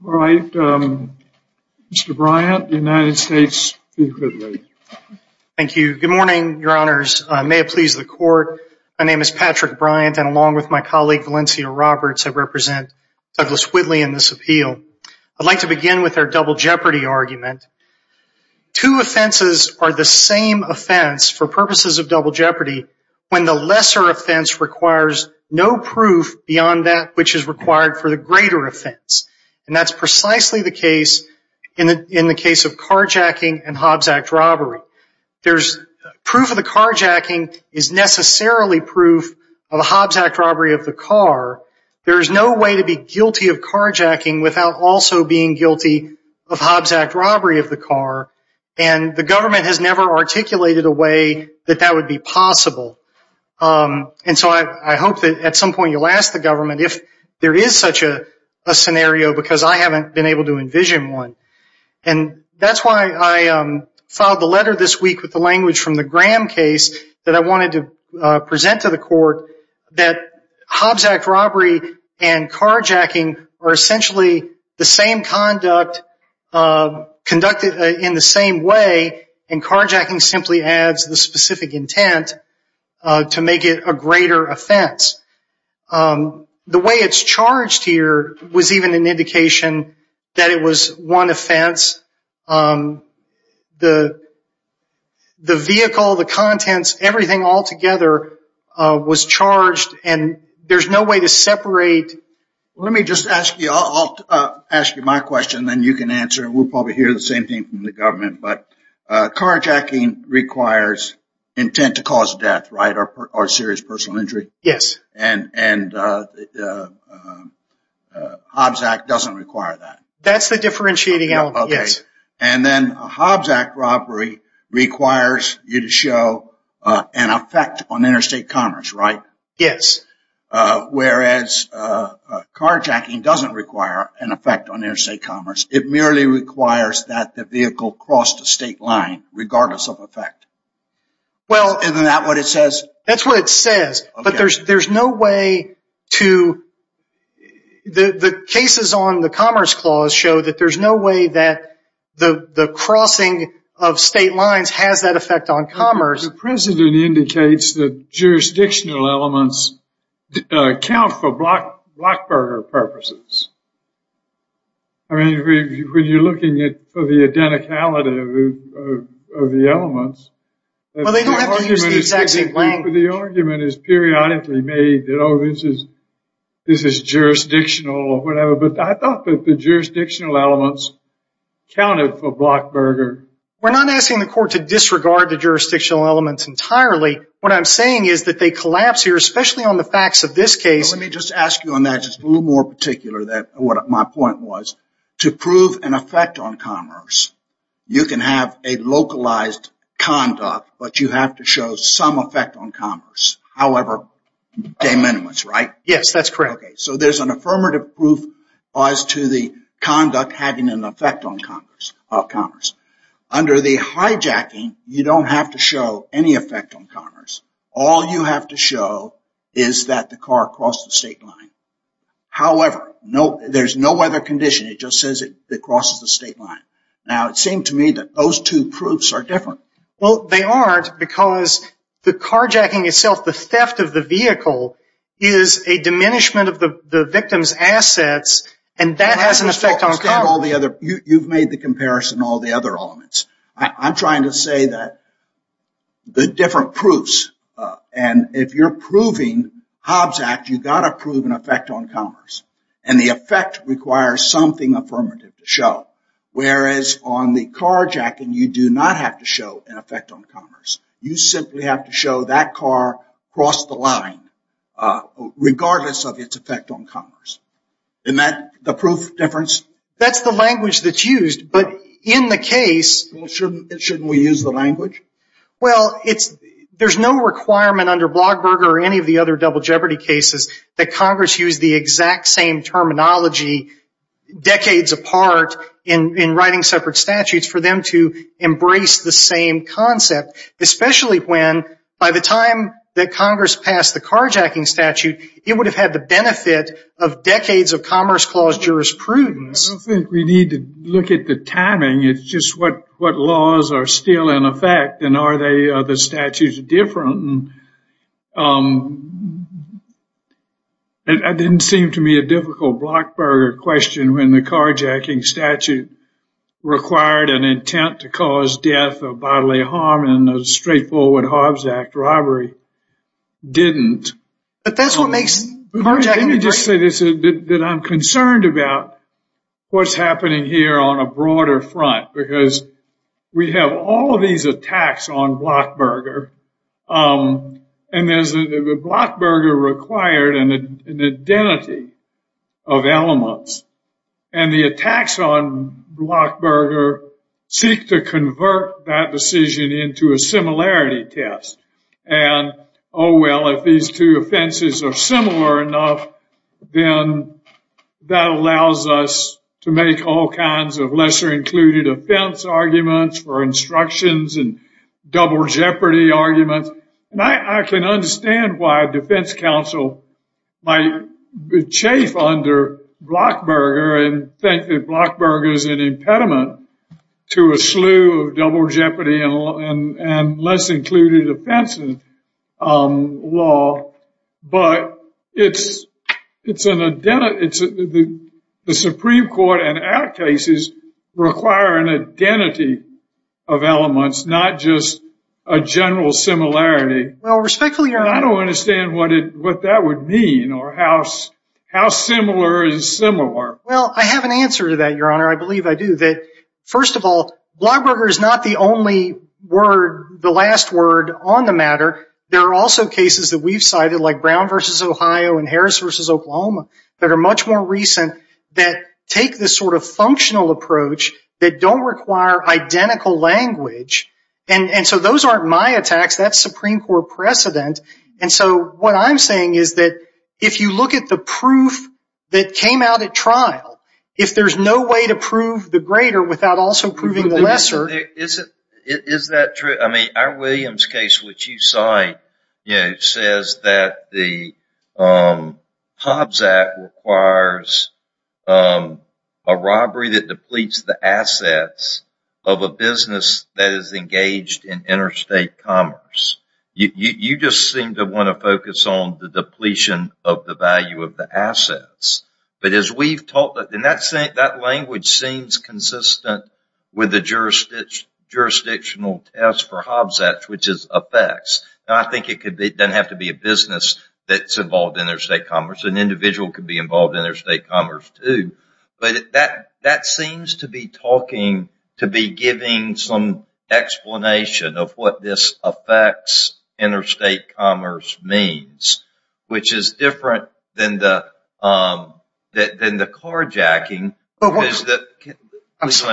Good morning, your honors. May it please the court, my name is Patrick Bryant and along with my colleague Valencia Roberts I represent Douglas Whitley in this appeal. I'd like to begin with our double jeopardy argument. Two offenses are the same offense for purposes of double jeopardy when the lesser offense requires no proof beyond that which is required for the greater offense. And that's precisely the case in the case of carjacking and Hobbs Act robbery. There's proof of the carjacking is necessarily proof of the Hobbs Act robbery of the car. There's no way to be guilty of carjacking without also being guilty of Hobbs Act robbery of the car and the government has never articulated a way that that would be possible. And so I hope that at some point you'll ask the government if there is such a scenario because I haven't been able to envision one. And that's why I filed the letter this week with the language from the Graham case that I wanted to present to the court that Hobbs Act robbery and carjacking are essentially the same conduct conducted in the same way and carjacking simply adds the specific intent to make it a greater offense. The way it's charged here was even an indication that it was one offense. The vehicle, the vehicle was charged and there's no way to separate. Let me just ask you, I'll ask you my question then you can answer and we'll probably hear the same thing from the government. But carjacking requires intent to cause death, right, or serious personal injury. And Hobbs Act doesn't require that. That's the differentiating element, yes. And then Hobbs Act robbery requires you to show an effect on interstate commerce, right? Yes. Whereas carjacking doesn't require an effect on interstate commerce. It merely requires that the vehicle cross the state line regardless of effect. Isn't that what it says? That's what it says. But there's no way to, the cases on the Commerce Clause show that there's no way that the crossing of state lines has that effect on commerce. The precedent indicates that jurisdictional elements account for Blackberger purposes. I mean, when you're looking for the identicality of the elements. Well they don't have to use the exact same language. The argument is periodically made that, oh, this is jurisdictional or whatever. But I mean, jurisdictional elements accounted for Blackberger. We're not asking the court to disregard the jurisdictional elements entirely. What I'm saying is that they collapse here, especially on the facts of this case. Let me just ask you on that, just a little more particular, what my point was. To prove an effect on commerce, you can have a localized conduct, but you have to show some effect on commerce. However, pay minimums, right? Yes, that's correct. So there's an affirmative proof as to the conduct having an effect on commerce. Under the hijacking, you don't have to show any effect on commerce. All you have to show is that the car crossed the state line. However, there's no other condition. It just says it crosses the state line. Now it seemed to me that those two proofs are different. Well, they aren't because the carjacking itself, the theft of the vehicle, is a diminishment of the victim's assets, and that has an effect on commerce. You've made the comparison on all the other elements. I'm trying to say that the different proofs, and if you're proving Hobbs Act, you've got to prove an effect on commerce. And the effect requires something affirmative to show. Whereas on the carjacking, you do not have to show an effect on commerce. You simply have to show that car crossed the line, regardless of its effect on commerce. Isn't that the proof difference? That's the language that's used, but in the case... Well, shouldn't we use the language? Well, there's no requirement under Blogberger or any of the other double jeopardy cases that Congress use the exact same terminology decades apart in writing separate statutes for them to embrace the same concept, especially when, by the time that Congress passed the carjacking statute, it would have had the benefit of decades of Commerce Clause jurisprudence. I don't think we need to look at the timing. It's just what laws are still in effect, and are the statutes different? That didn't seem to me a difficult Blogberger question when the carjacking statute required an intent to cause death or bodily harm, and the straightforward Hobbs Act robbery didn't. But that's what makes carjacking... Let me just say this, that I'm concerned about what's happening here on a broader front, because we have all of these attacks on Blogberger, and there's the Blogberger required an identity of elements, and the attacks on Blogberger seek to convert that decision into a similarity test. And, oh, well, if these two offenses are similar enough, then that allows us to make all kinds of lesser-included offense arguments for instructions and double jeopardy chafe under Blogberger, and think that Blogberger's an impediment to a slew of double jeopardy and less-included offenses law. But it's an identity... The Supreme Court and our cases require an identity of elements, not just a general similarity. Well, respectfully, Your Honor... But I don't understand what that would mean, or how similar is similar. Well, I have an answer to that, Your Honor. I believe I do. First of all, Blogberger is not the only word, the last word on the matter. There are also cases that we've cited, like Brown v. Ohio and Harris v. Oklahoma, that are much more recent, that take this sort of functional approach that don't require identical language. And so those aren't my precedent. And so what I'm saying is that if you look at the proof that came out at trial, if there's no way to prove the greater without also proving the lesser... Is that true? I mean, our Williams case, which you cite, says that the Hobbs Act requires a robbery that depletes the assets of a business that is engaged in interstate commerce. You just seem to want to focus on the depletion of the value of the assets. But as we've talked about, that language seems consistent with the jurisdictional test for Hobbs Act, which is effects. Now, I think it doesn't have to be a business that's involved in interstate commerce. An individual could be involved in interstate commerce, too. But that seems to be talking, to be giving some explanation of what this affects interstate commerce means, which is different than the carjacking. Let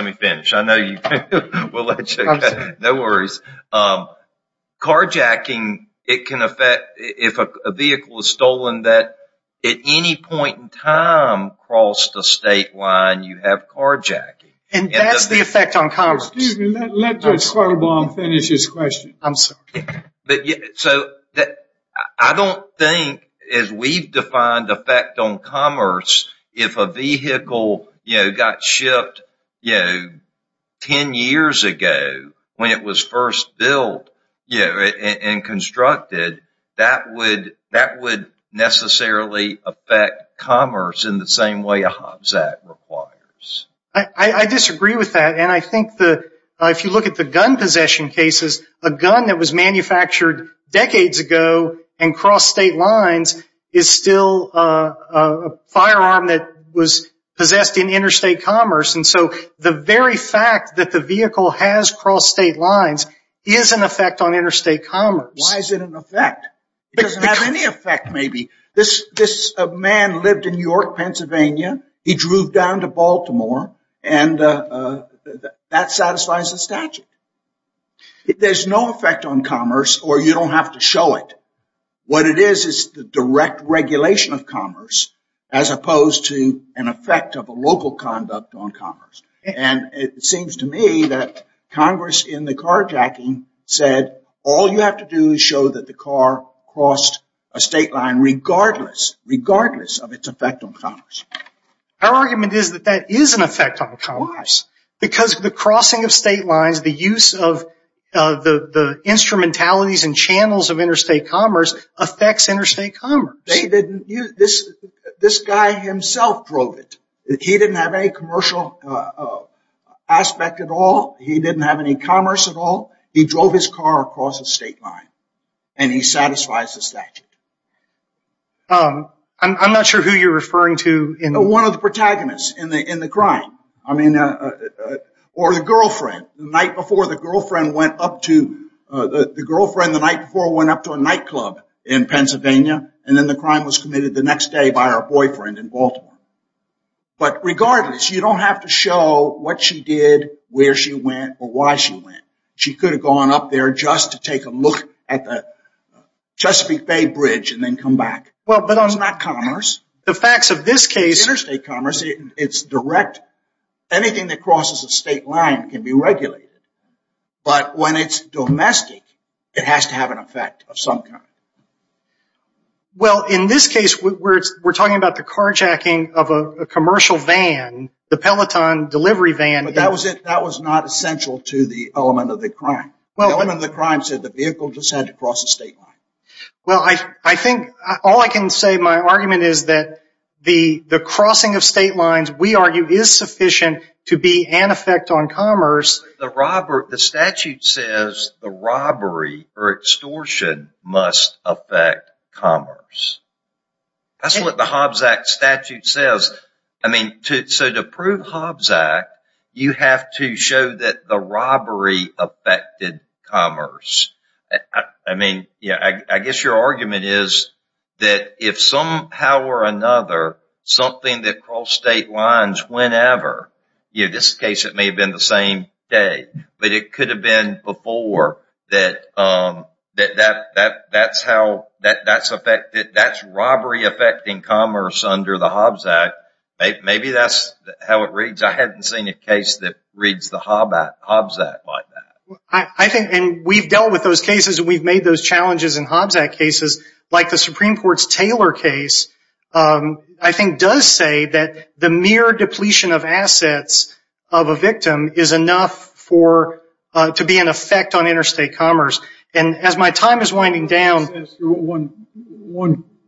me finish. I know you can. No worries. Carjacking, it can affect if a vehicle is stolen, that at any point in time across the state line you have carjacking. And that's the effect on commerce. Excuse me, let Judge Sperlbaum finish his question. I'm sorry. I don't think, as we've defined effect on commerce, if a vehicle got shipped 10 years ago when it was first built and constructed, that would necessarily affect commerce in the same way a Hobbs Act requires. I disagree with that. And I think that if you look at the gun possession cases, a gun that was manufactured decades ago and crossed state lines is still a firearm that was possessed in interstate commerce. And so the very fact that the vehicle has crossed state lines is an effect on interstate commerce. Why is it an effect? It doesn't have any effect, maybe. This man lived in New York, Pennsylvania. He drove down to Baltimore. And that satisfies the statute. There's no effect on commerce, or you don't have to show it. What it is is the direct regulation of commerce, as opposed to an effect of a local conduct on commerce. And it seems to me that Congress, in the carjacking, said all you have to do is show that the car crossed a state line regardless, regardless of its effect on commerce. Our argument is that that is an effect on commerce, because the crossing of state lines, the use of the instrumentalities and channels of interstate commerce affects interstate commerce. This guy himself drove it. He didn't have any commercial aspect at all. He didn't have any commerce at all. He drove his car across the state line. And he satisfies the statute. I'm not sure who you're referring to. One of the protagonists in the crime. Or the girlfriend. The night before the girlfriend went up to a nightclub in Pennsylvania, and then the crime was committed the next day by her. She didn't have to show what she did, where she went, or why she went. She could have gone up there just to take a look at the Chesapeake Bay Bridge and then come back. Well, but that's not commerce. The facts of this case... Interstate commerce, it's direct. Anything that crosses a state line can be regulated. But when it's domestic, it has to have an effect of some kind. Well, in this case, we're talking about the carjacking of a commercial van, the Peloton delivery van. But that was not essential to the element of the crime. The element of the crime said the vehicle just had to cross the state line. Well, I think all I can say, my argument is that the crossing of state lines, we argue, is sufficient to be an effect on commerce. The statute says the robbery or extortion must affect commerce. That's what the Hobbs Act statute says. I mean, so to prove Hobbs Act, you have to show that the robbery affected commerce. I mean, yeah, I guess your argument is that if somehow or another, something that crossed state lines whenever, in this case, it may have been the same day, but it could have been before. That's robbery affecting commerce under the Hobbs Act. Maybe that's how it reads. I haven't seen a case that reads the Hobbs Act like that. I think, and we've dealt with those cases, and we've made those challenges in Hobbs Act cases, like the Supreme Court's Taylor case, I think does say that the mere depletion of assets of a victim is enough for, to be an effect on interstate commerce. And as my time is winding down.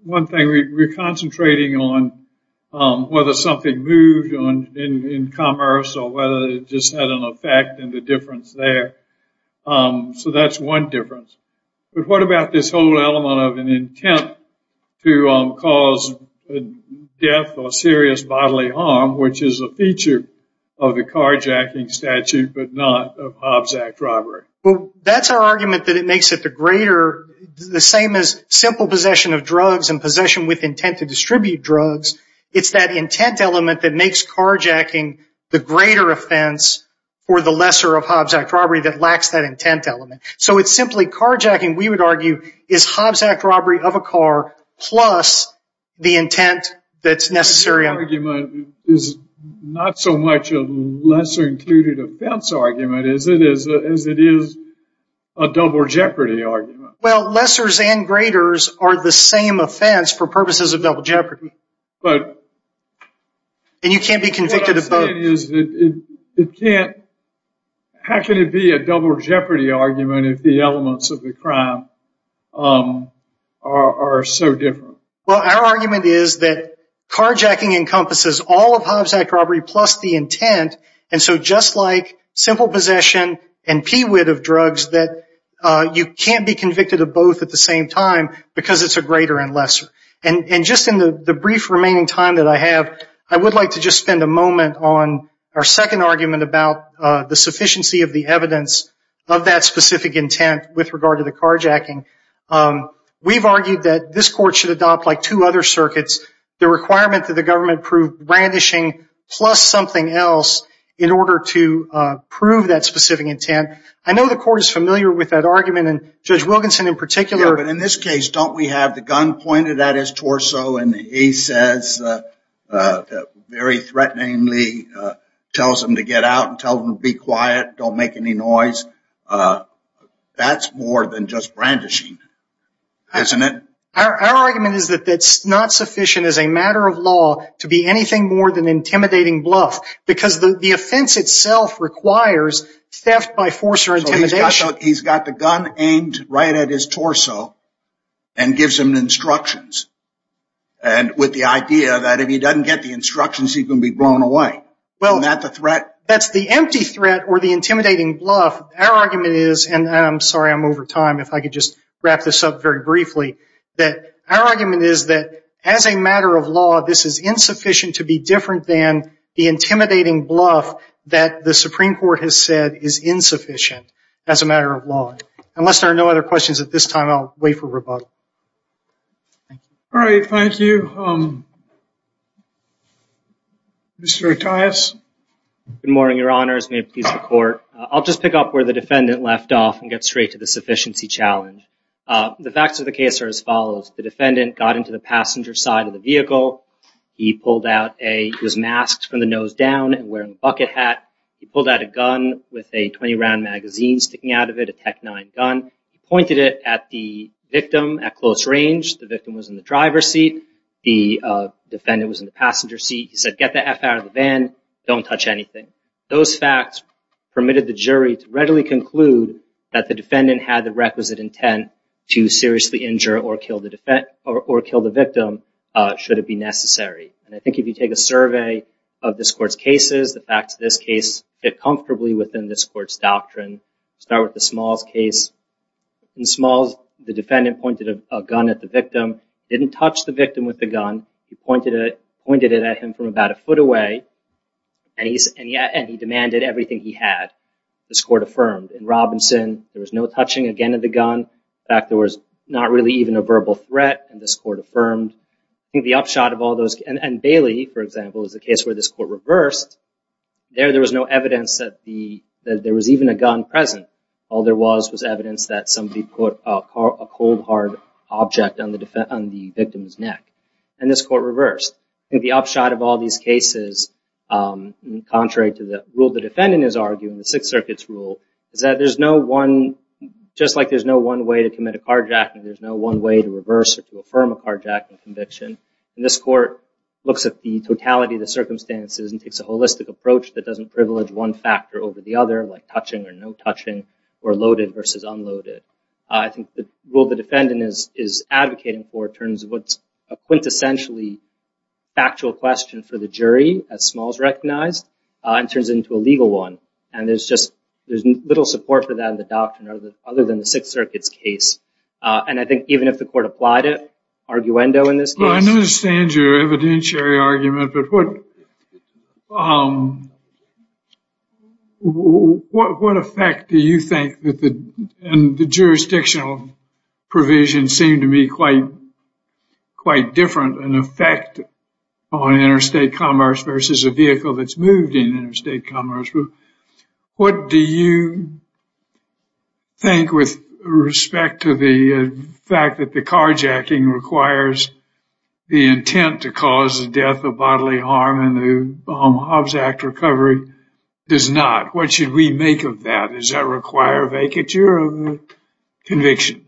One thing, we're concentrating on whether something moved in commerce or whether it just had an effect and a difference there. So that's one difference. But what about this whole element of an intent to cause death or serious bodily harm, which is a feature of the carjacking statute, but not of Hobbs Act robbery? Well, that's our argument that it makes it the greater, the same as simple possession of drugs and possession with intent to distribute drugs. It's that intent element that makes carjacking the greater offense for the lesser of Hobbs Act robbery of a car, plus the intent that's necessary. That argument is not so much a lesser included offense argument, is it, as it is a double jeopardy argument? Well, lessers and greaters are the same offense for purposes of double jeopardy. And you can't be convicted of both. It can't. How can it be a double jeopardy argument if the elements of the crime are so different? Well, our argument is that carjacking encompasses all of Hobbs Act robbery, plus the intent. And so just like simple possession and PWID of drugs, that you can't be convicted of both at the same time because it's a greater and lesser. And just in the brief remaining time that I have, I would like to just spend a moment on our second argument about the sufficiency of the evidence of that specific intent with regard to the carjacking. We've argued that this court should adopt, like two other circuits, the requirement that the government prove brandishing plus something else in order to prove that specific intent. I know the court is familiar with that argument, and Judge Wilkinson in particular. Yeah, but in this case, don't we have the gun pointed at his torso and he says, very threateningly, tells him to get out and tell him to be quiet, don't make any noise. That's more than just brandishing, isn't it? Our argument is that that's not sufficient as a matter of law to be anything more than intimidating bluff, because the offense itself requires theft by force or intimidation. He's got the gun aimed right at his instructions. And with the idea that if he doesn't get the instructions, he's going to be blown away. That's the empty threat or the intimidating bluff. Our argument is, and I'm sorry I'm over time, if I could just wrap this up very briefly, that our argument is that as a matter of law, this is insufficient to be different than the intimidating bluff that the Supreme Court has said is insufficient as a matter of law. Unless there are no other questions at this time, I'll wait for rebuttal. All right, thank you. Mr. Attias? Good morning, Your Honor. As may have pleased the court, I'll just pick up where the defendant left off and get straight to the sufficiency challenge. The facts of the case are as follows. The defendant got into the passenger side of the vehicle. He was masked from the nose down and wearing a bucket hat. He pulled out a gun with a 20-round magazine sticking out of it, a Tec-9 gun. He pointed it at the victim at close range. The victim was in the driver's seat. The defendant was in the passenger seat. He said, get the F out of the van. Don't touch anything. Those facts permitted the jury to readily conclude that the defendant had the requisite intent to seriously injure or kill the victim should it be necessary. And I think if you take a survey of this Court's cases, the facts of this case fit comfortably within this Court's doctrine. Start with the Smalls case. In Smalls, the defendant pointed a gun at the victim, didn't touch the victim with the gun. He pointed it at him from about a foot away, and he demanded everything he had. This Court affirmed. In Robinson, there was no touching, again, of the gun. In fact, there was not really even a verbal threat, and this Court affirmed. I think the upshot of all those, and Bailey, for example, is the case where this Court reversed. There, there was no evidence that there was even a gun present. All there was was evidence that somebody put a cold, hard object on the victim's neck, and this Court reversed. I think the upshot of all these cases, contrary to the rule the defendant is arguing, the Sixth Circuit's rule, is that there's no one, just like there's no one way to commit a carjacking, there's no one way to reverse or looks at the totality of the circumstances and takes a holistic approach that doesn't privilege one factor over the other, like touching or no touching, or loaded versus unloaded. I think the rule the defendant is advocating for turns what's a quintessentially factual question for the jury, as Smalls recognized, and turns it into a legal one. And there's just, there's little support for that in the doctrine other than the Sixth Circuit's case. And I think even if the Court applied it, in this case, I understand your evidentiary argument, but what, what effect do you think that the, and the jurisdictional provision seemed to be quite, quite different, an effect on interstate commerce versus a vehicle that's moved in interstate commerce? What do you think with respect to the fact that the carjacking requires the intent to cause the death of bodily harm and the Hobbs Act recovery does not? What should we make of that? Does that require a vacature of conviction?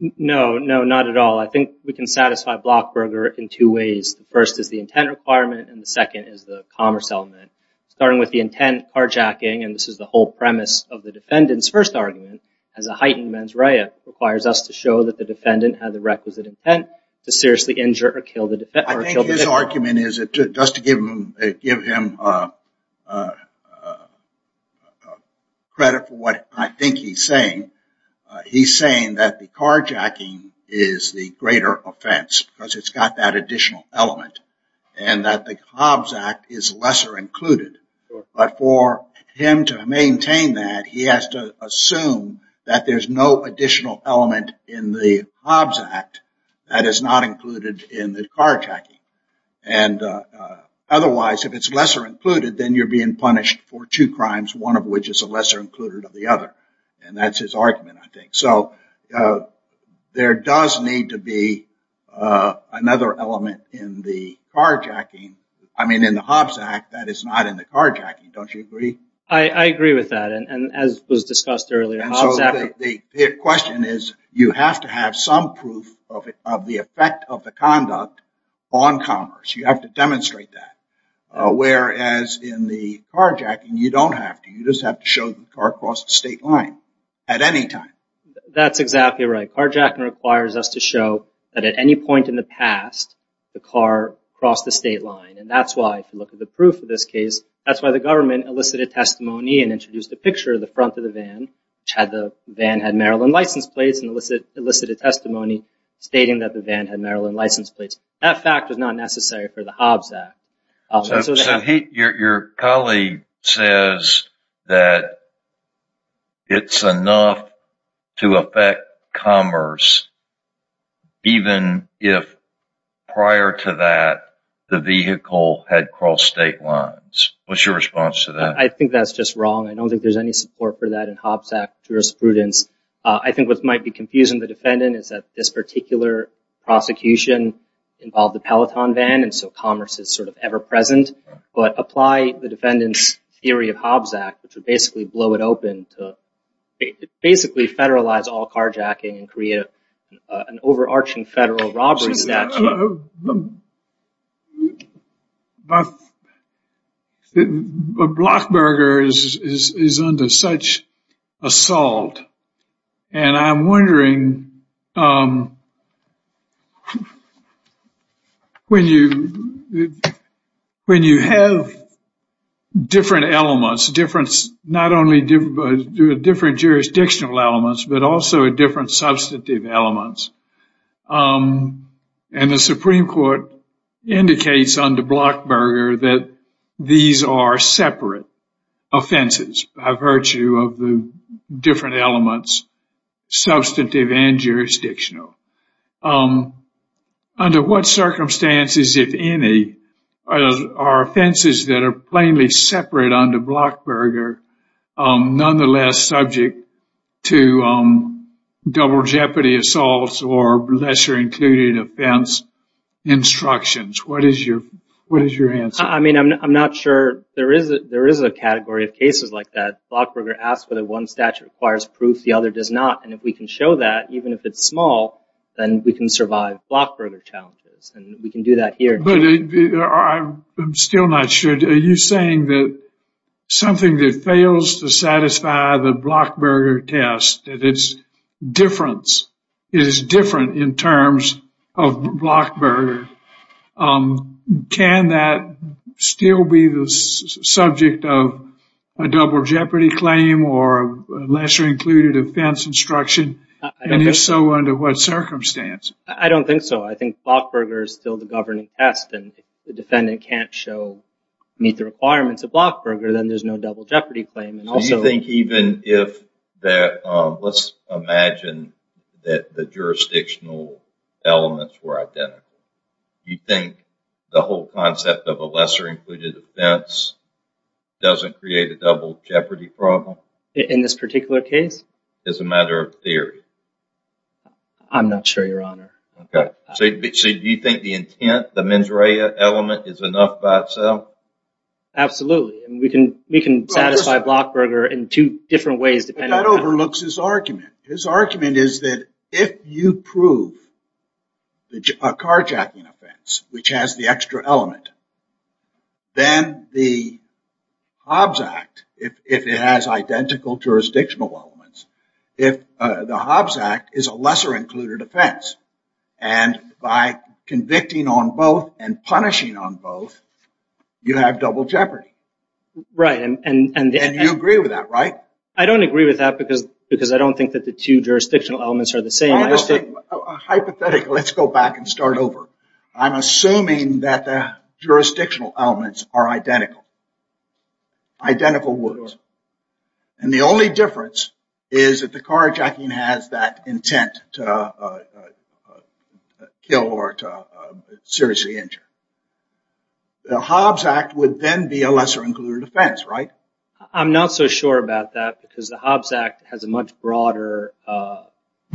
No, no, not at all. I think we can satisfy Blockberger in two ways. The first is the intent requirement, and the second is the intent carjacking, and this is the whole premise of the defendant's first argument, as a heightened mens rea requires us to show that the defendant had the requisite intent to seriously injure or kill the defendant. I think his argument is, just to give him, give him credit for what I think he's saying, he's saying that the carjacking is the greater offense because it's got that additional element and that the Hobbs Act is lesser included, but for him to maintain that, he has to assume that there's no additional element in the Hobbs Act that is not included in the carjacking. And otherwise, if it's lesser included, then you're being punished for two crimes, one of which is a lesser included of the other. And that's his argument, I think. So there does need to be another element in the carjacking. I mean, in the Hobbs Act, that is not in the carjacking. Don't you agree? I agree with that. And as was discussed earlier, Hobbs Act... And so the question is, you have to have some proof of the effect of the conduct on commerce. You have to demonstrate that. Whereas in the carjacking, you don't have to. You just have to show the car crossed the state line at any time. That's exactly right. Carjacking requires us to show that at any point in the past, the car crossed the state line. And that's why, if you look at the proof of this case, that's why the government elicited testimony and introduced a picture of the front of the van, which had the van had Maryland license plates and elicited testimony stating that the van had Maryland license plates. That fact was not necessary for the Hobbs Act. So your colleague says that it's enough to affect commerce, even if prior to that, the vehicle had crossed state lines. What's your response to that? I think that's just wrong. I don't think there's any support for that in Hobbs Act jurisprudence. I think what might be confusing the defendant is that this particular prosecution involved the Peloton van, and so commerce is sort of ever present. But apply the defendant's theory of Hobbs Act, which would basically blow it open to basically federalize all carjacking and create an overarching federal robbery statute. Blockberger is under such assault, and I'm wondering when you have different elements, not only different jurisdictional elements, but also different substantive elements. And the Supreme Court indicates under Blockberger that these are separate offenses by virtue of the different elements, substantive and jurisdictional. Under what circumstances, if any, are offenses that are plainly separate under Blockberger nonetheless subject to double jeopardy assaults or lesser included offense instructions? What is your answer? I mean, I'm not sure there is a category of cases like that. Blockberger asks whether one statute requires proof, the other does not. And if we can show that, even if it's small, then we can survive Blockberger challenges. And we can do that here. I'm still not sure. Are you saying that something that fails to satisfy the Blockberger test, that its difference is different in terms of Blockberger, can that still be the subject of a double jeopardy claim or lesser included offense instruction? And if so, under what the defendant can't meet the requirements of Blockberger, then there's no double jeopardy claim. Let's imagine that the jurisdictional elements were identical. Do you think the whole concept of a lesser included offense doesn't create a double jeopardy problem? In this particular case? As a matter of theory? I'm not sure, Your Honor. Okay. So do you think the intent, the mens rea element is enough by itself? Absolutely. We can satisfy Blockberger in two different ways. That overlooks his argument. His argument is that if you prove a carjacking offense, which has the extra element, then the Hobbs Act, if it has identical jurisdictional elements, if the Hobbs Act is a lesser included offense, and by convicting on both and punishing on both, you have double jeopardy. Right. And you agree with that, right? I don't agree with that because I don't think that the two jurisdictional elements are the same. Hypothetically, let's go back and start over. I'm assuming that the jurisdictional elements are identical. Identical words. And the only difference is that the carjacking has that intent to kill or to seriously injure. The Hobbs Act would then be a lesser included offense, right? I'm not so sure about that because the Hobbs Act has a much broader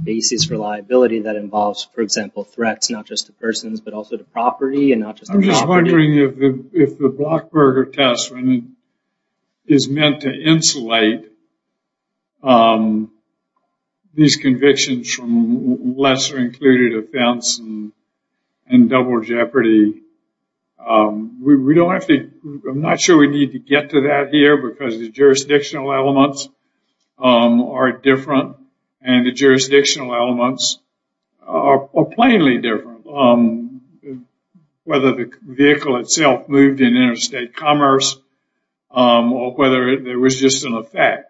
basis for liability that involves, for example, threats, not just to persons, but also to property. I'm just wondering if the Blockberger test is meant to insulate these convictions from lesser included offense and double jeopardy. I'm not sure we need to get to that here because the jurisdictional elements are different and the jurisdictional elements are plainly different. Whether the vehicle itself moved in interstate commerce or whether there was just an effect.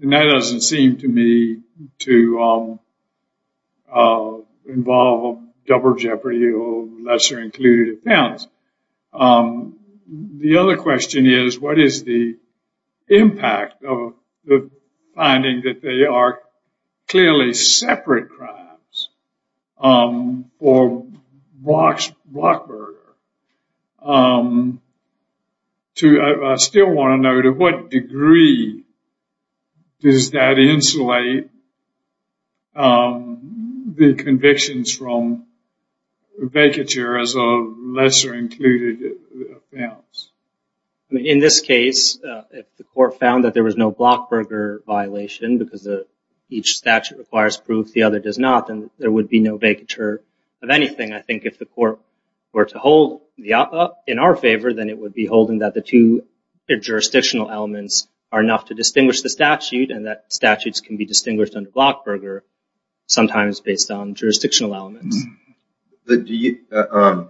And that doesn't seem to me to involve double jeopardy or lesser included offense. The other question is, what is the impact of the finding that they are clearly separate crimes for Blockberger? I still want to know to what degree does that insulate the convictions from vacature as a lesser included offense? I mean, in this case, if the court found that there was no Blockberger violation because each statute requires proof, the other does not, then there would be no vacature of anything. I think if the court were to hold in our favor, then it would be holding that the two jurisdictional elements are enough to distinguish the statute and that statutes can be distinguished under Blockberger sometimes based on jurisdictional elements. I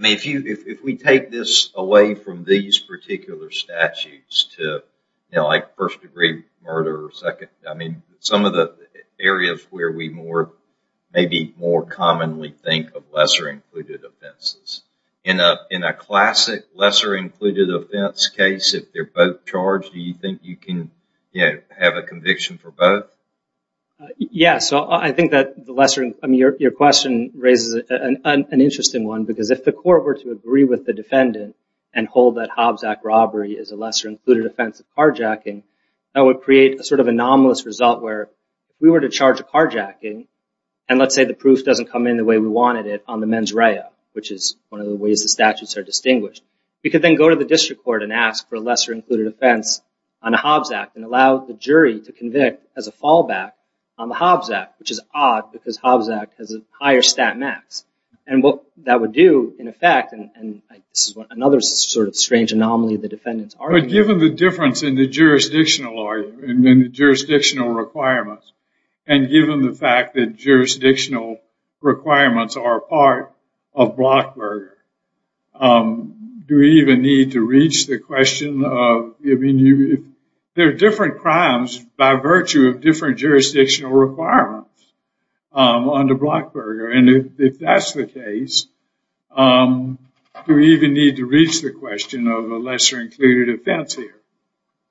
mean, if we take this away from these particular statutes to first degree murder, some of the areas where we maybe more commonly think of lesser included offenses. In a classic lesser included offense case, if they're both charged, do you think you can have a conviction for both? Yeah, so I think that your question raises an interesting one because if the court were to agree with the defendant and hold that Hobbs Act robbery is a lesser included offense of carjacking, that would create a sort of anomalous result where if we were to charge a carjacking and let's say the proof doesn't come in the way we wanted it on the mens rea, which is one of the ways the statutes are distinguished, we could then go to the district court and ask for a lesser included offense on the Hobbs Act and allow the jury to convict as a fallback on the Hobbs Act, which is odd because Hobbs Act has a higher stat max. And what that would do in effect, and this is another sort of strange anomaly of the defendant's argument. But given the difference in the part of Blockberger, do we even need to reach the question of, I mean, there are different crimes by virtue of different jurisdictional requirements under Blockberger. And if that's the case, do we even need to reach the question of a lesser included offense here?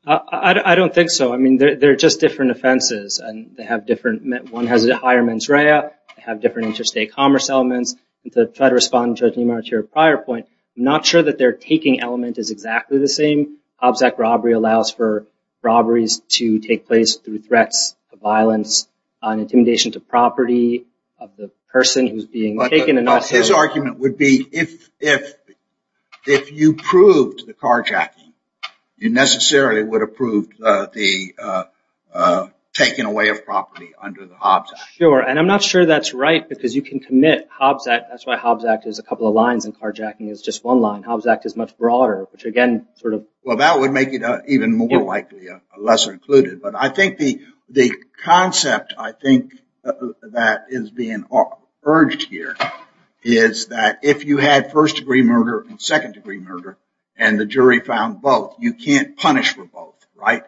I don't think so. I mean, they're just different offenses and they have different, one has a higher mens rea, they have different interstate commerce elements. And to try to respond to Judge Neimann's prior point, I'm not sure that their taking element is exactly the same. Hobbs Act robbery allows for robberies to take place through threats of violence, intimidation to property of the person who's being taken. But his argument would be if you proved the carjacking, you necessarily would have proved taking away of property under the Hobbs Act. Sure. And I'm not sure that's right because you can commit Hobbs Act, that's why Hobbs Act is a couple of lines and carjacking is just one line. Hobbs Act is much broader, which again, sort of... Well, that would make it even more likely a lesser included. But I think the concept, I think, that is being urged here is that if you had first degree murder and second degree murder, and the jury found both, you can't punish for both, right?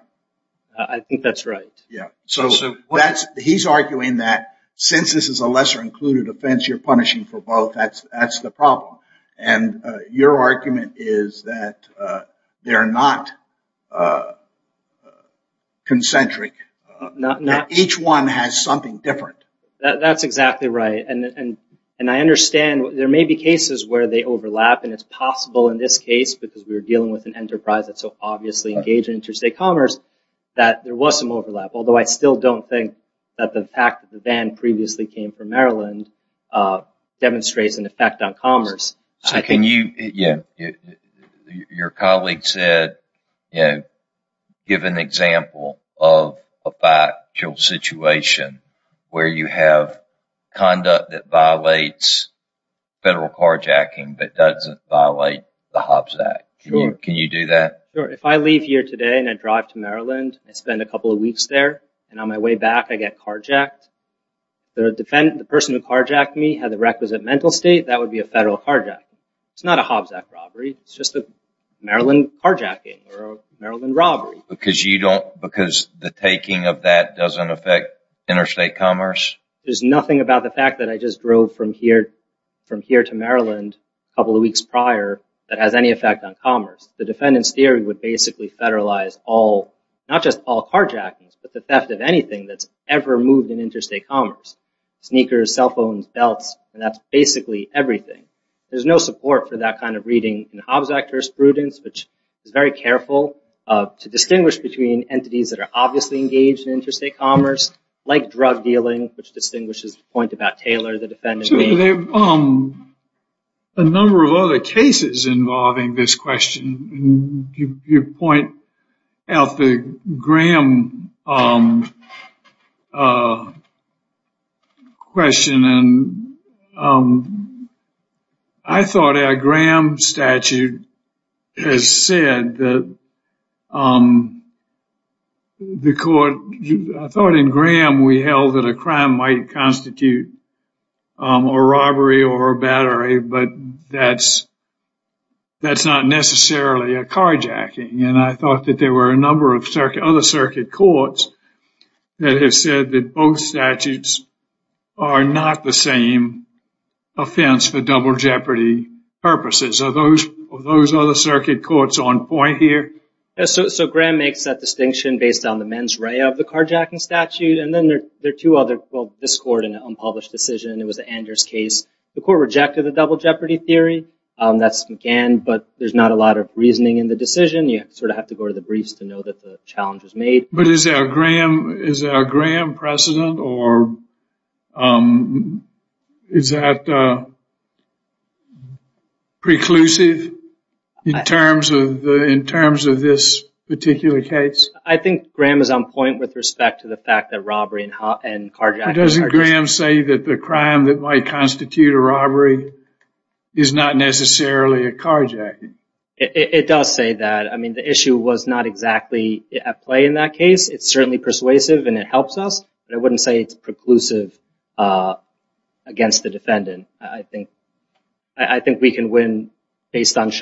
I think that's right. So he's arguing that since this is a lesser included offense, you're punishing for both, that's the problem. And your argument is that they're not concentric. Each one has something different. That's exactly right. And I understand there may be cases where they overlap, and it's possible in this case, because we're dealing with an enterprise that's obviously engaged in interstate commerce, that there was some overlap. Although, I still don't think that the fact that the van previously came from Maryland demonstrates an effect on commerce. So can you... Your colleague said, give an example of a factual situation where you have conduct that violates federal carjacking, but doesn't violate the Hobbs Act. Can you do that? If I leave here today, and I drive to Maryland, I spend a couple of weeks there, and on my way back, I get carjacked, the person who carjacked me had the requisite mental state, that would be a federal carjacking. It's not a Hobbs Act robbery. It's just a Maryland carjacking or a Maryland robbery. Because the taking of that doesn't affect interstate commerce? There's nothing about the fact that I just drove from here to Maryland a couple of weeks prior that has any effect on commerce. The defendant's theory would basically federalize not just all carjackings, but the theft of anything that's ever moved in interstate commerce. Sneakers, cell phones, belts, and that's basically everything. There's no support for that kind of reading in the Hobbs Act jurisprudence, which is very careful to distinguish between entities that are obviously engaged in interstate commerce, like drug dealing, which distinguishes the point about Taylor, the defendant being... There are a number of other cases involving this question. You point out the Graham question, and I thought our Graham statute has said that the court... I thought in Graham we held that a crime might constitute a robbery or a battery, but that's not necessarily a carjacking. And I thought that there were a number of other circuit courts that have said that both statutes are not the same offense for double jeopardy purposes. Are those other circuit courts on point here? So Graham makes that distinction based on the mens rea of the carjacking statute, and then there are two other, well, this court in an unpublished decision. It was the Anders case. The court rejected the double jeopardy theory. That's began, but there's not a lot of reasoning in the decision. You sort of have to go to the briefs to know that the challenge was made. But is there a Graham precedent, or is that preclusive in terms of this particular case? I think Graham is on point with respect to the fact that robbery and carjacking... Doesn't Graham say that the crime that might constitute a robbery is not necessarily a robbery? I don't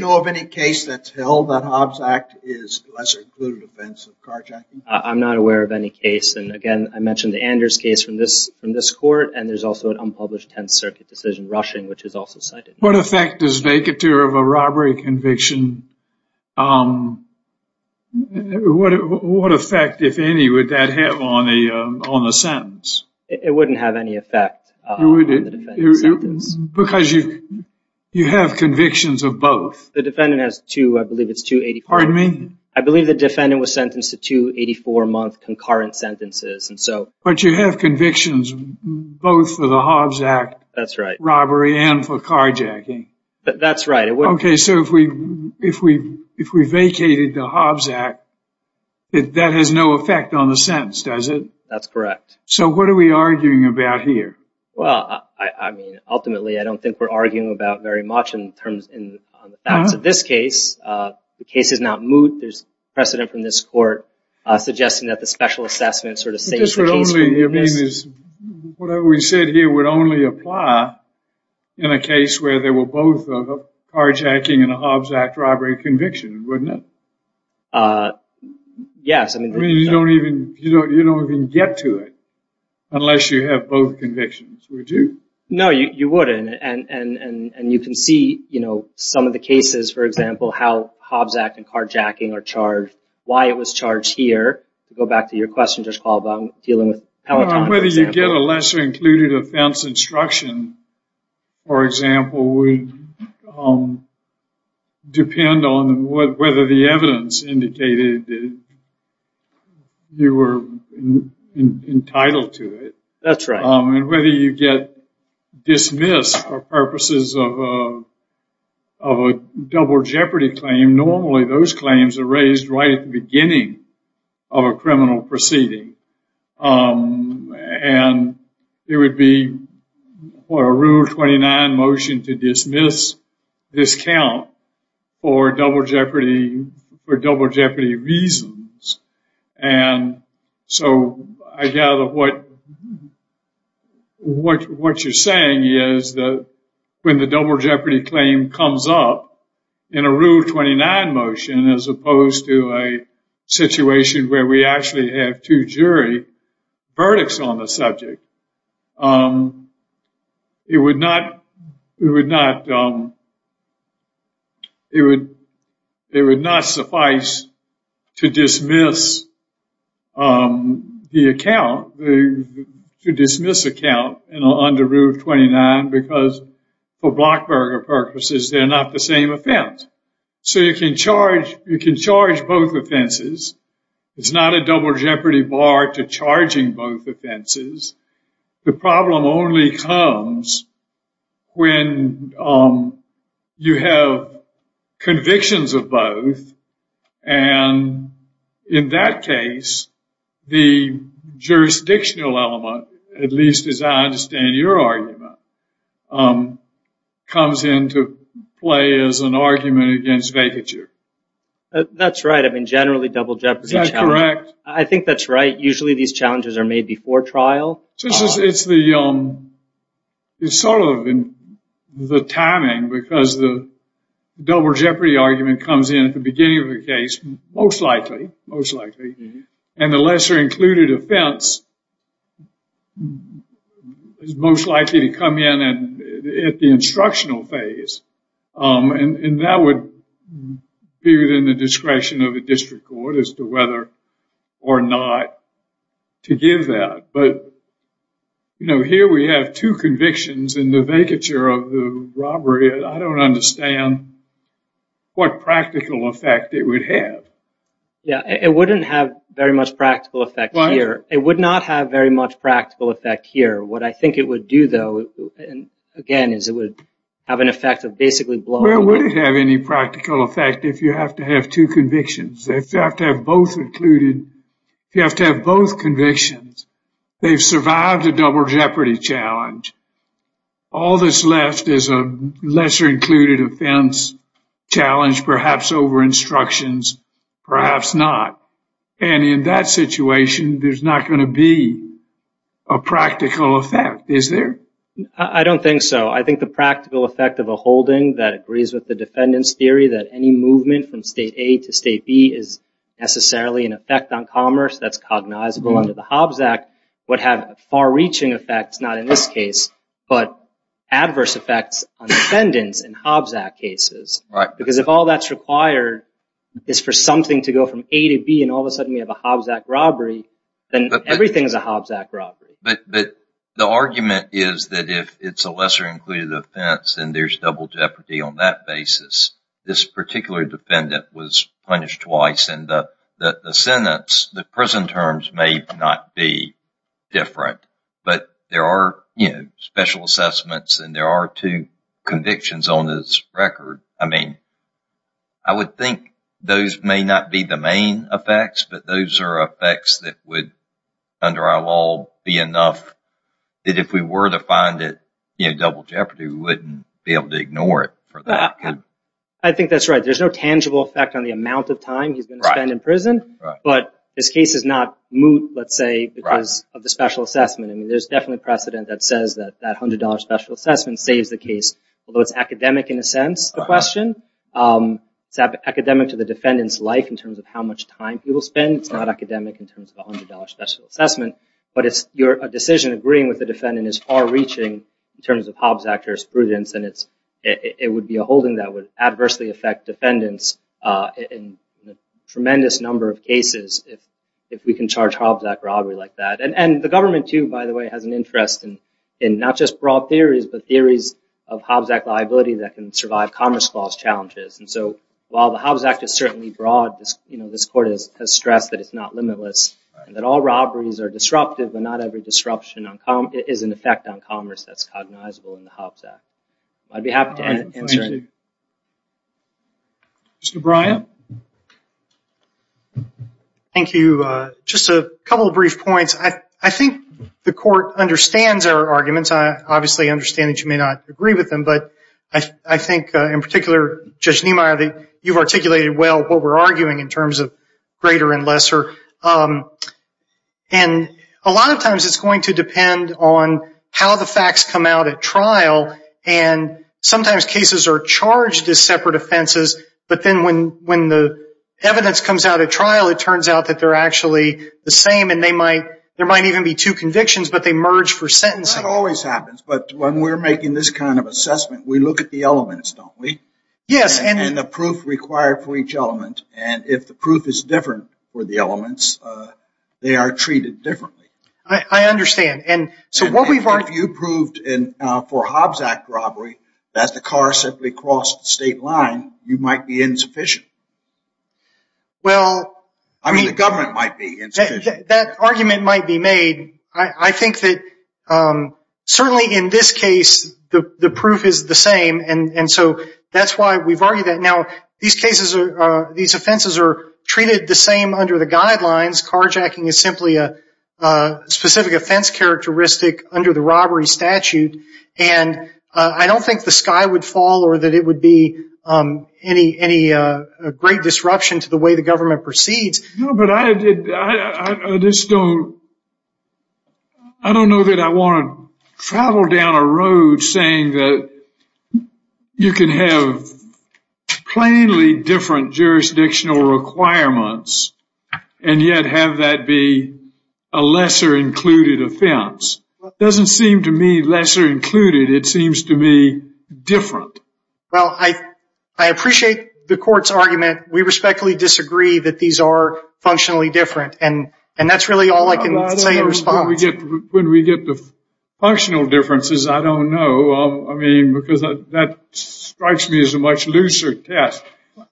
know of any case that's held that Hobbs Act is less included offense of carjacking. I'm not aware of any case. And again, I mentioned the Anders case from this court, and there's also an unpublished 10th Circuit decision rushing, which is also cited. What effect does vacature of a robbery conviction... What effect, if any, would that have on the sentence? It wouldn't have any effect on the defendant's sentence. Because you have convictions of both. The defendant has two, I believe it's 284... Pardon me? I believe the defendant was sentenced to two 84-month concurrent sentences, and so... But you have convictions both for the Hobbs Act... That's right. ...robbery and for carjacking. That's right. Okay, so if we vacated the Hobbs Act, that has no effect on the sentence, does it? That's correct. So what are we arguing about here? Well, I mean, ultimately, I don't think we're arguing about very much in terms of this case. The case is not moot. There's precedent from this court suggesting that the special assessment sort of... You mean, whatever we said here would only apply in a case where there were both a carjacking and a Hobbs Act robbery conviction, wouldn't it? Yes, I mean... You don't even get to it unless you have both convictions, would you? No, you wouldn't. And you can see, you know, some of the cases, for example, how Hobbs Act and carjacking are charged, why it was charged here. Go back to your question, Judge Caldwell, dealing with Palatine, for example. Whether you get a lesser included offense instruction, for example, would depend on whether the evidence indicated that you were entitled to it. That's right. And whether you get dismissed for purposes of a double jeopardy claim. Normally, those claims are raised right at the beginning of a criminal proceeding. And it would be for a Rule 29 motion to dismiss, discount for double jeopardy reasons. And so I gather what you're saying is that when the double jeopardy claim comes up, in a Rule 29 motion, as opposed to a situation where we actually have two jury verdicts on the subject, it would not suffice to dismiss the account, to dismiss account under Rule 29, because for Blockberger purposes, they're not the same offense. So you can charge both offenses. It's not a double jeopardy bar to charging both offenses. The problem only comes when you have convictions of both. And in that case, the jurisdictional element, at least as I understand your argument, um, comes into play as an argument against vacature. That's right. I mean, generally double jeopardy. Is that correct? I think that's right. Usually these challenges are made before trial. So it's the, um, it's sort of in the timing, because the double jeopardy argument comes in at the beginning of the case, most likely, most likely. And the lesser included offense is most likely to come in at the instructional phase. And that would be within the discretion of the district court as to whether or not to give that. But, you know, here we have two convictions in the vacature of the robbery. I don't understand what practical effect it would have. Yeah, it wouldn't have very much practical effect here. It would not have very much practical effect here. What I think it would do, though, and again, is it would have an effect of basically blowing. Well, it wouldn't have any practical effect if you have to have two convictions. They have to have both included. If you have to have both convictions, they've survived a double jeopardy challenge. All that's left is a lesser included offense challenge, perhaps over instructions, perhaps not. And in that situation, there's not going to be a practical effect, is there? I don't think so. I think the practical effect of a holding that agrees with the defendant's theory that any movement from state A to state B is necessarily an effect on commerce, that's cognizable under the Hobbs Act, would have far-reaching effects, not in this case, but adverse effects on defendants in Hobbs Act cases. Because if all that's required is for something to go from A to B, and all of a sudden we have a Hobbs Act robbery, then everything is a Hobbs Act robbery. But the argument is that if it's a lesser included offense, then there's double jeopardy on that basis. This particular defendant was punished twice, and the sentence, the prison terms may not be different, but there are special assessments, and there are two convictions on this record. I mean, I would think those may not be the main effects, but those are effects that would, under our law, be enough that if we were to find it, you know, double jeopardy, we wouldn't be able to ignore it. I think that's right. There's no tangible effect on the amount of time he's going to spend in prison, but this case is not moot, let's say, because of the special assessment. I mean, there's definitely precedent that says that that $100 special assessment saves the case, although it's academic in a sense, the question. It's academic to the defendant's life in terms of how much time people spend. It's not academic in terms of $100 special assessment, but a decision agreeing with the defendant is far-reaching in terms of Hobbs Act jurisprudence, and it would be a holding that would adversely affect defendants in a tremendous number of cases if we can charge Hobbs Act robbery like that. And the government, too, by the way, has an interest in not just broad theories, but theories of Hobbs Act liability that can survive Commerce Clause challenges. And so while the Hobbs Act is certainly broad, you know, this court has stressed that it's not limitless, and that all robberies are disruptive, but not every disruption is an effect on commerce that's cognizable in the Hobbs Act. I'd be happy to answer. Mr. Bryant. Thank you. Just a couple of brief points. I think the court understands our arguments. Obviously, I understand that you may not agree with them, but I think, in particular, Judge Niemeyer, you've articulated well what we're arguing in terms of greater and lesser. And a lot of times it's going to depend on how the facts come out at trial, and sometimes cases are charged as separate offenses, but then when the evidence comes out at trial, it turns out that they're actually the same, and there might even be two convictions, but they merge for sentencing. That always happens, but when we're making this kind of assessment, we look at the elements, don't we? Yes. And the proof required for each element, and if the proof is different for the elements, they are treated differently. I understand. And so what we've argued— If you proved for a Hobbs Act robbery that the car simply crossed the state line, you might be insufficient. Well— I mean, the government might be insufficient. That argument might be made. I think that certainly in this case, the proof is the same, and so that's why we've argued that. Now, these offenses are treated the same under the guidelines. Carjacking is simply a specific offense characteristic under the robbery statute, and I don't think the sky would fall or that it would be any great disruption to the way the government proceeds. No, but I just don't— I don't know that I want to travel down a road saying that you can have plainly different jurisdictional requirements and yet have that be a lesser-included offense. It doesn't seem to me lesser-included. It seems to me different. Well, I appreciate the court's argument. We respectfully disagree that these are functionally different, and that's really all I can say in response. When we get the functional differences, I don't know. I mean, because that strikes me as a much looser test.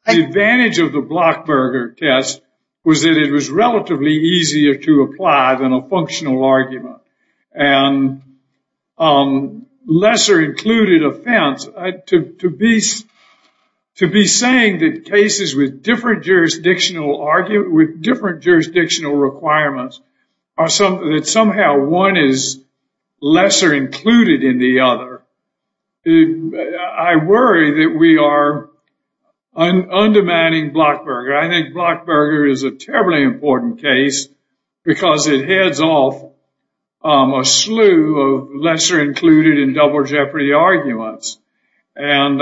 The advantage of the Blockberger test was that it was relatively easier to apply than a functional argument. And lesser-included offense— to be saying that cases with different jurisdictional arguments— with different jurisdictional requirements— that somehow one is lesser-included in the other, I worry that we are undemanding Blockberger. I think Blockberger is a terribly important case because it heads off a slew of lesser-included and double-jeopardy arguments. And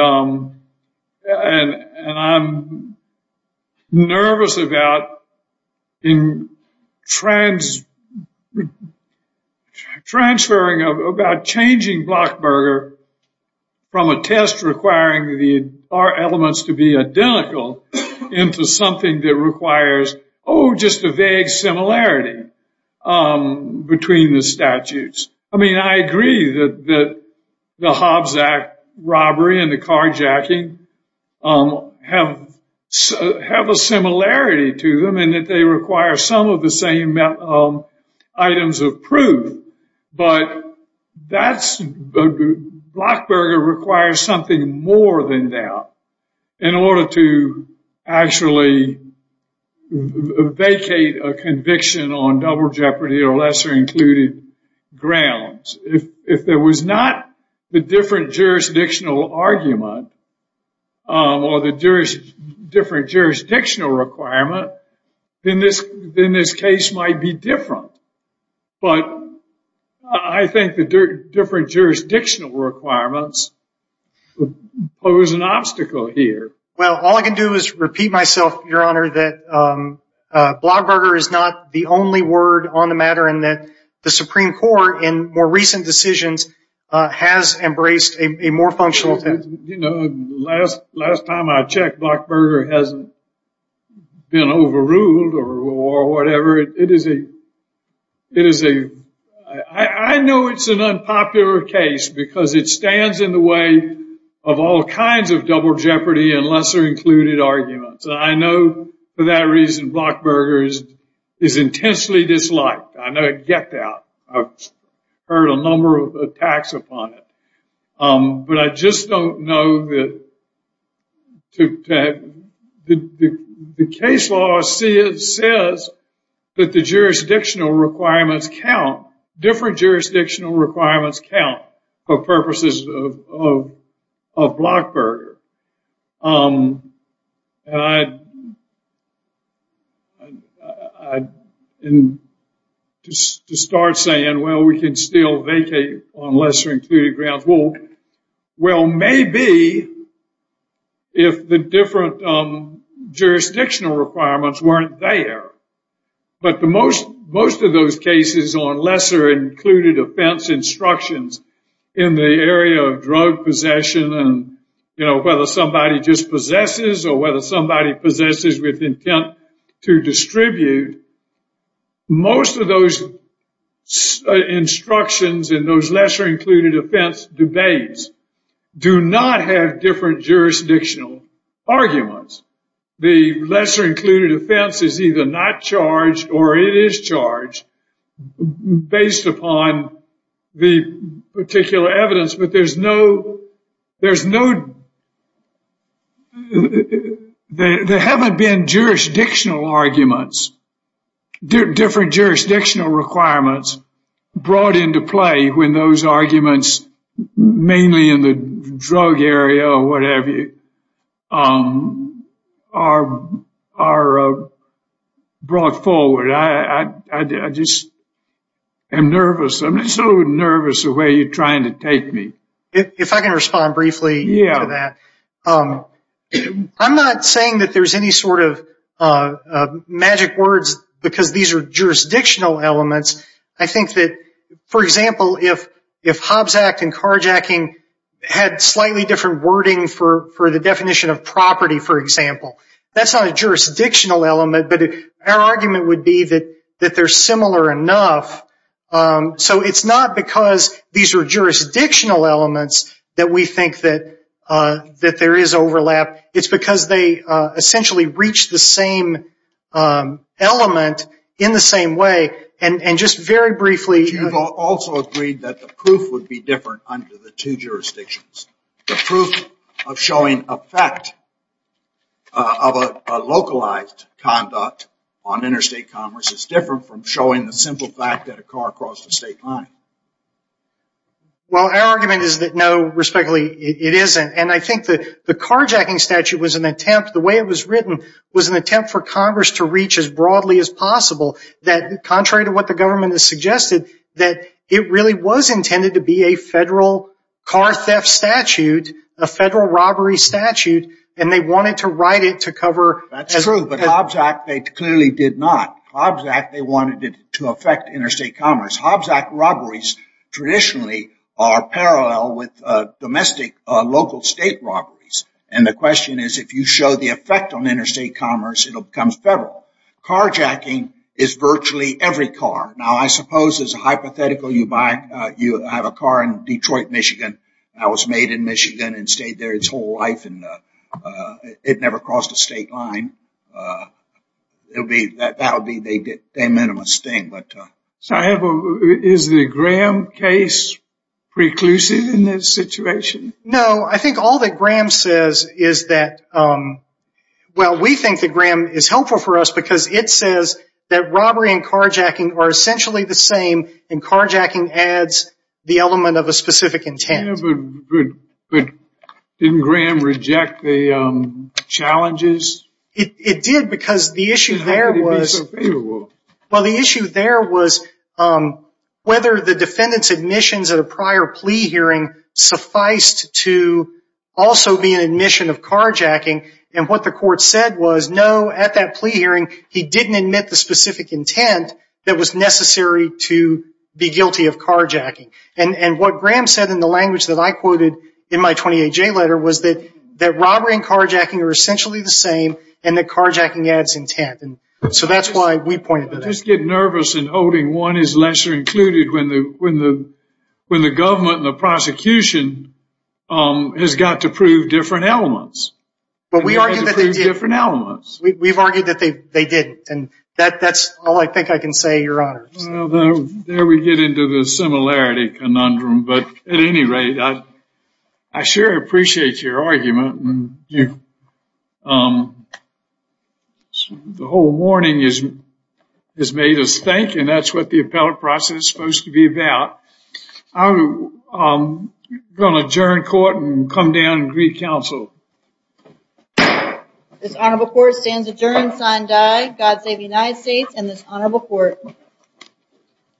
I'm nervous about transferring— about changing Blockberger from a test requiring the bar elements to be identical into something that requires, oh, just a vague similarity between the statutes. I mean, I agree that the Hobbs Act robbery and the carjacking have a similarity to them, and that they require some of the same items of proof. But Blockberger requires something more than that in order to actually vacate a conviction on double-jeopardy or lesser-included grounds. If there was not the different jurisdictional argument or the different jurisdictional requirement, then this case might be different. But I think the different jurisdictional requirements pose an obstacle here. That Blockberger is not the only word on the matter, and that the Supreme Court, in more recent decisions, has embraced a more functional test. You know, last time I checked, Blockberger hasn't been overruled or whatever. I know it's an unpopular case because it stands in the way of all kinds of double-jeopardy and lesser-included arguments. I know, for that reason, Blockberger is intensely disliked. I know I get that. I've heard a number of attacks upon it. But I just don't know that the case law says that the jurisdictional requirements count, different jurisdictional requirements count, for purposes of Blockberger. And to start saying, well, we can still vacate on lesser-included grounds. Well, maybe if the different jurisdictional requirements weren't there. But most of those cases on lesser-included offense instructions in the area of drug possession and, you know, whether somebody just possesses or whether somebody possesses with intent to distribute, most of those instructions in those lesser-included offense debates do not have different jurisdictional arguments. The lesser-included offense is either not charged or it is charged based upon the particular evidence. But there's no, there's no, there haven't been jurisdictional arguments, different jurisdictional requirements brought into play when those arguments, mainly in the drug area or whatever, are brought forward. I just am nervous. I'm so nervous the way you're trying to take me. If I can respond briefly to that. I'm not saying that there's any sort of magic words because these are jurisdictional elements. I think that, for example, if Hobbs Act and carjacking had slightly different wording for the definition of property, for example, that's not a jurisdictional element, but our argument would be that they're similar enough. So it's not because these are jurisdictional elements that we think that there is overlap. It's because they essentially reach the same element in the same way. And just very briefly. You've also agreed that the proof would be different under the two jurisdictions. The proof of showing a fact of a localized conduct on interstate commerce is different from showing the simple fact that a car crossed a state line. Well, our argument is that no, respectfully, it isn't. And I think that the carjacking statute was an attempt, the way it was written, was an attempt for Congress to reach as broadly as possible that, contrary to what the government has suggested, that it really was intended to be a federal car theft statute, a federal robbery statute, and they wanted to write it to cover... That's true, but Hobbs Act, they clearly did not. Hobbs Act, they wanted it to affect interstate commerce. Hobbs Act robberies traditionally are parallel with domestic local state robberies. And the question is, if you show the effect on interstate commerce, it'll become federal. Carjacking is virtually every car. Now, I suppose as a hypothetical, you have a car in Detroit, Michigan. That was made in Michigan and stayed there its whole life, and it never crossed a state line. That would be the minimalist thing. Is the Graham case preclusive in this situation? No, I think all that Graham says is that... Well, we think that Graham is helpful for us because it says that robbery and carjacking are essentially the same, and carjacking adds the element of a specific intent. Yeah, but didn't Graham reject the challenges? It did because the issue there was... Well, the issue there was whether the defendant's admissions at a prior plea hearing sufficed to also be an admission of carjacking. And what the court said was, no, at that plea hearing, he didn't admit the specific intent that was necessary to be guilty of carjacking. And what Graham said in the language that I quoted in my 28-J letter was that robbery and carjacking are essentially the same, and that carjacking adds intent. And so that's why we pointed that out. I just get nervous in holding one is lesser included when the government and the prosecution has got to prove different elements. But we argue that they did. We've argued that they didn't. And that's all I think I can say, Your Honor. There we get into the similarity conundrum. But at any rate, I sure appreciate your argument. And the whole morning has made us think, and that's what the appellate process is supposed to be about. I'm going to adjourn court and come down and greet counsel. This honorable court stands adjourned, sign die, God save the United States and this honorable court.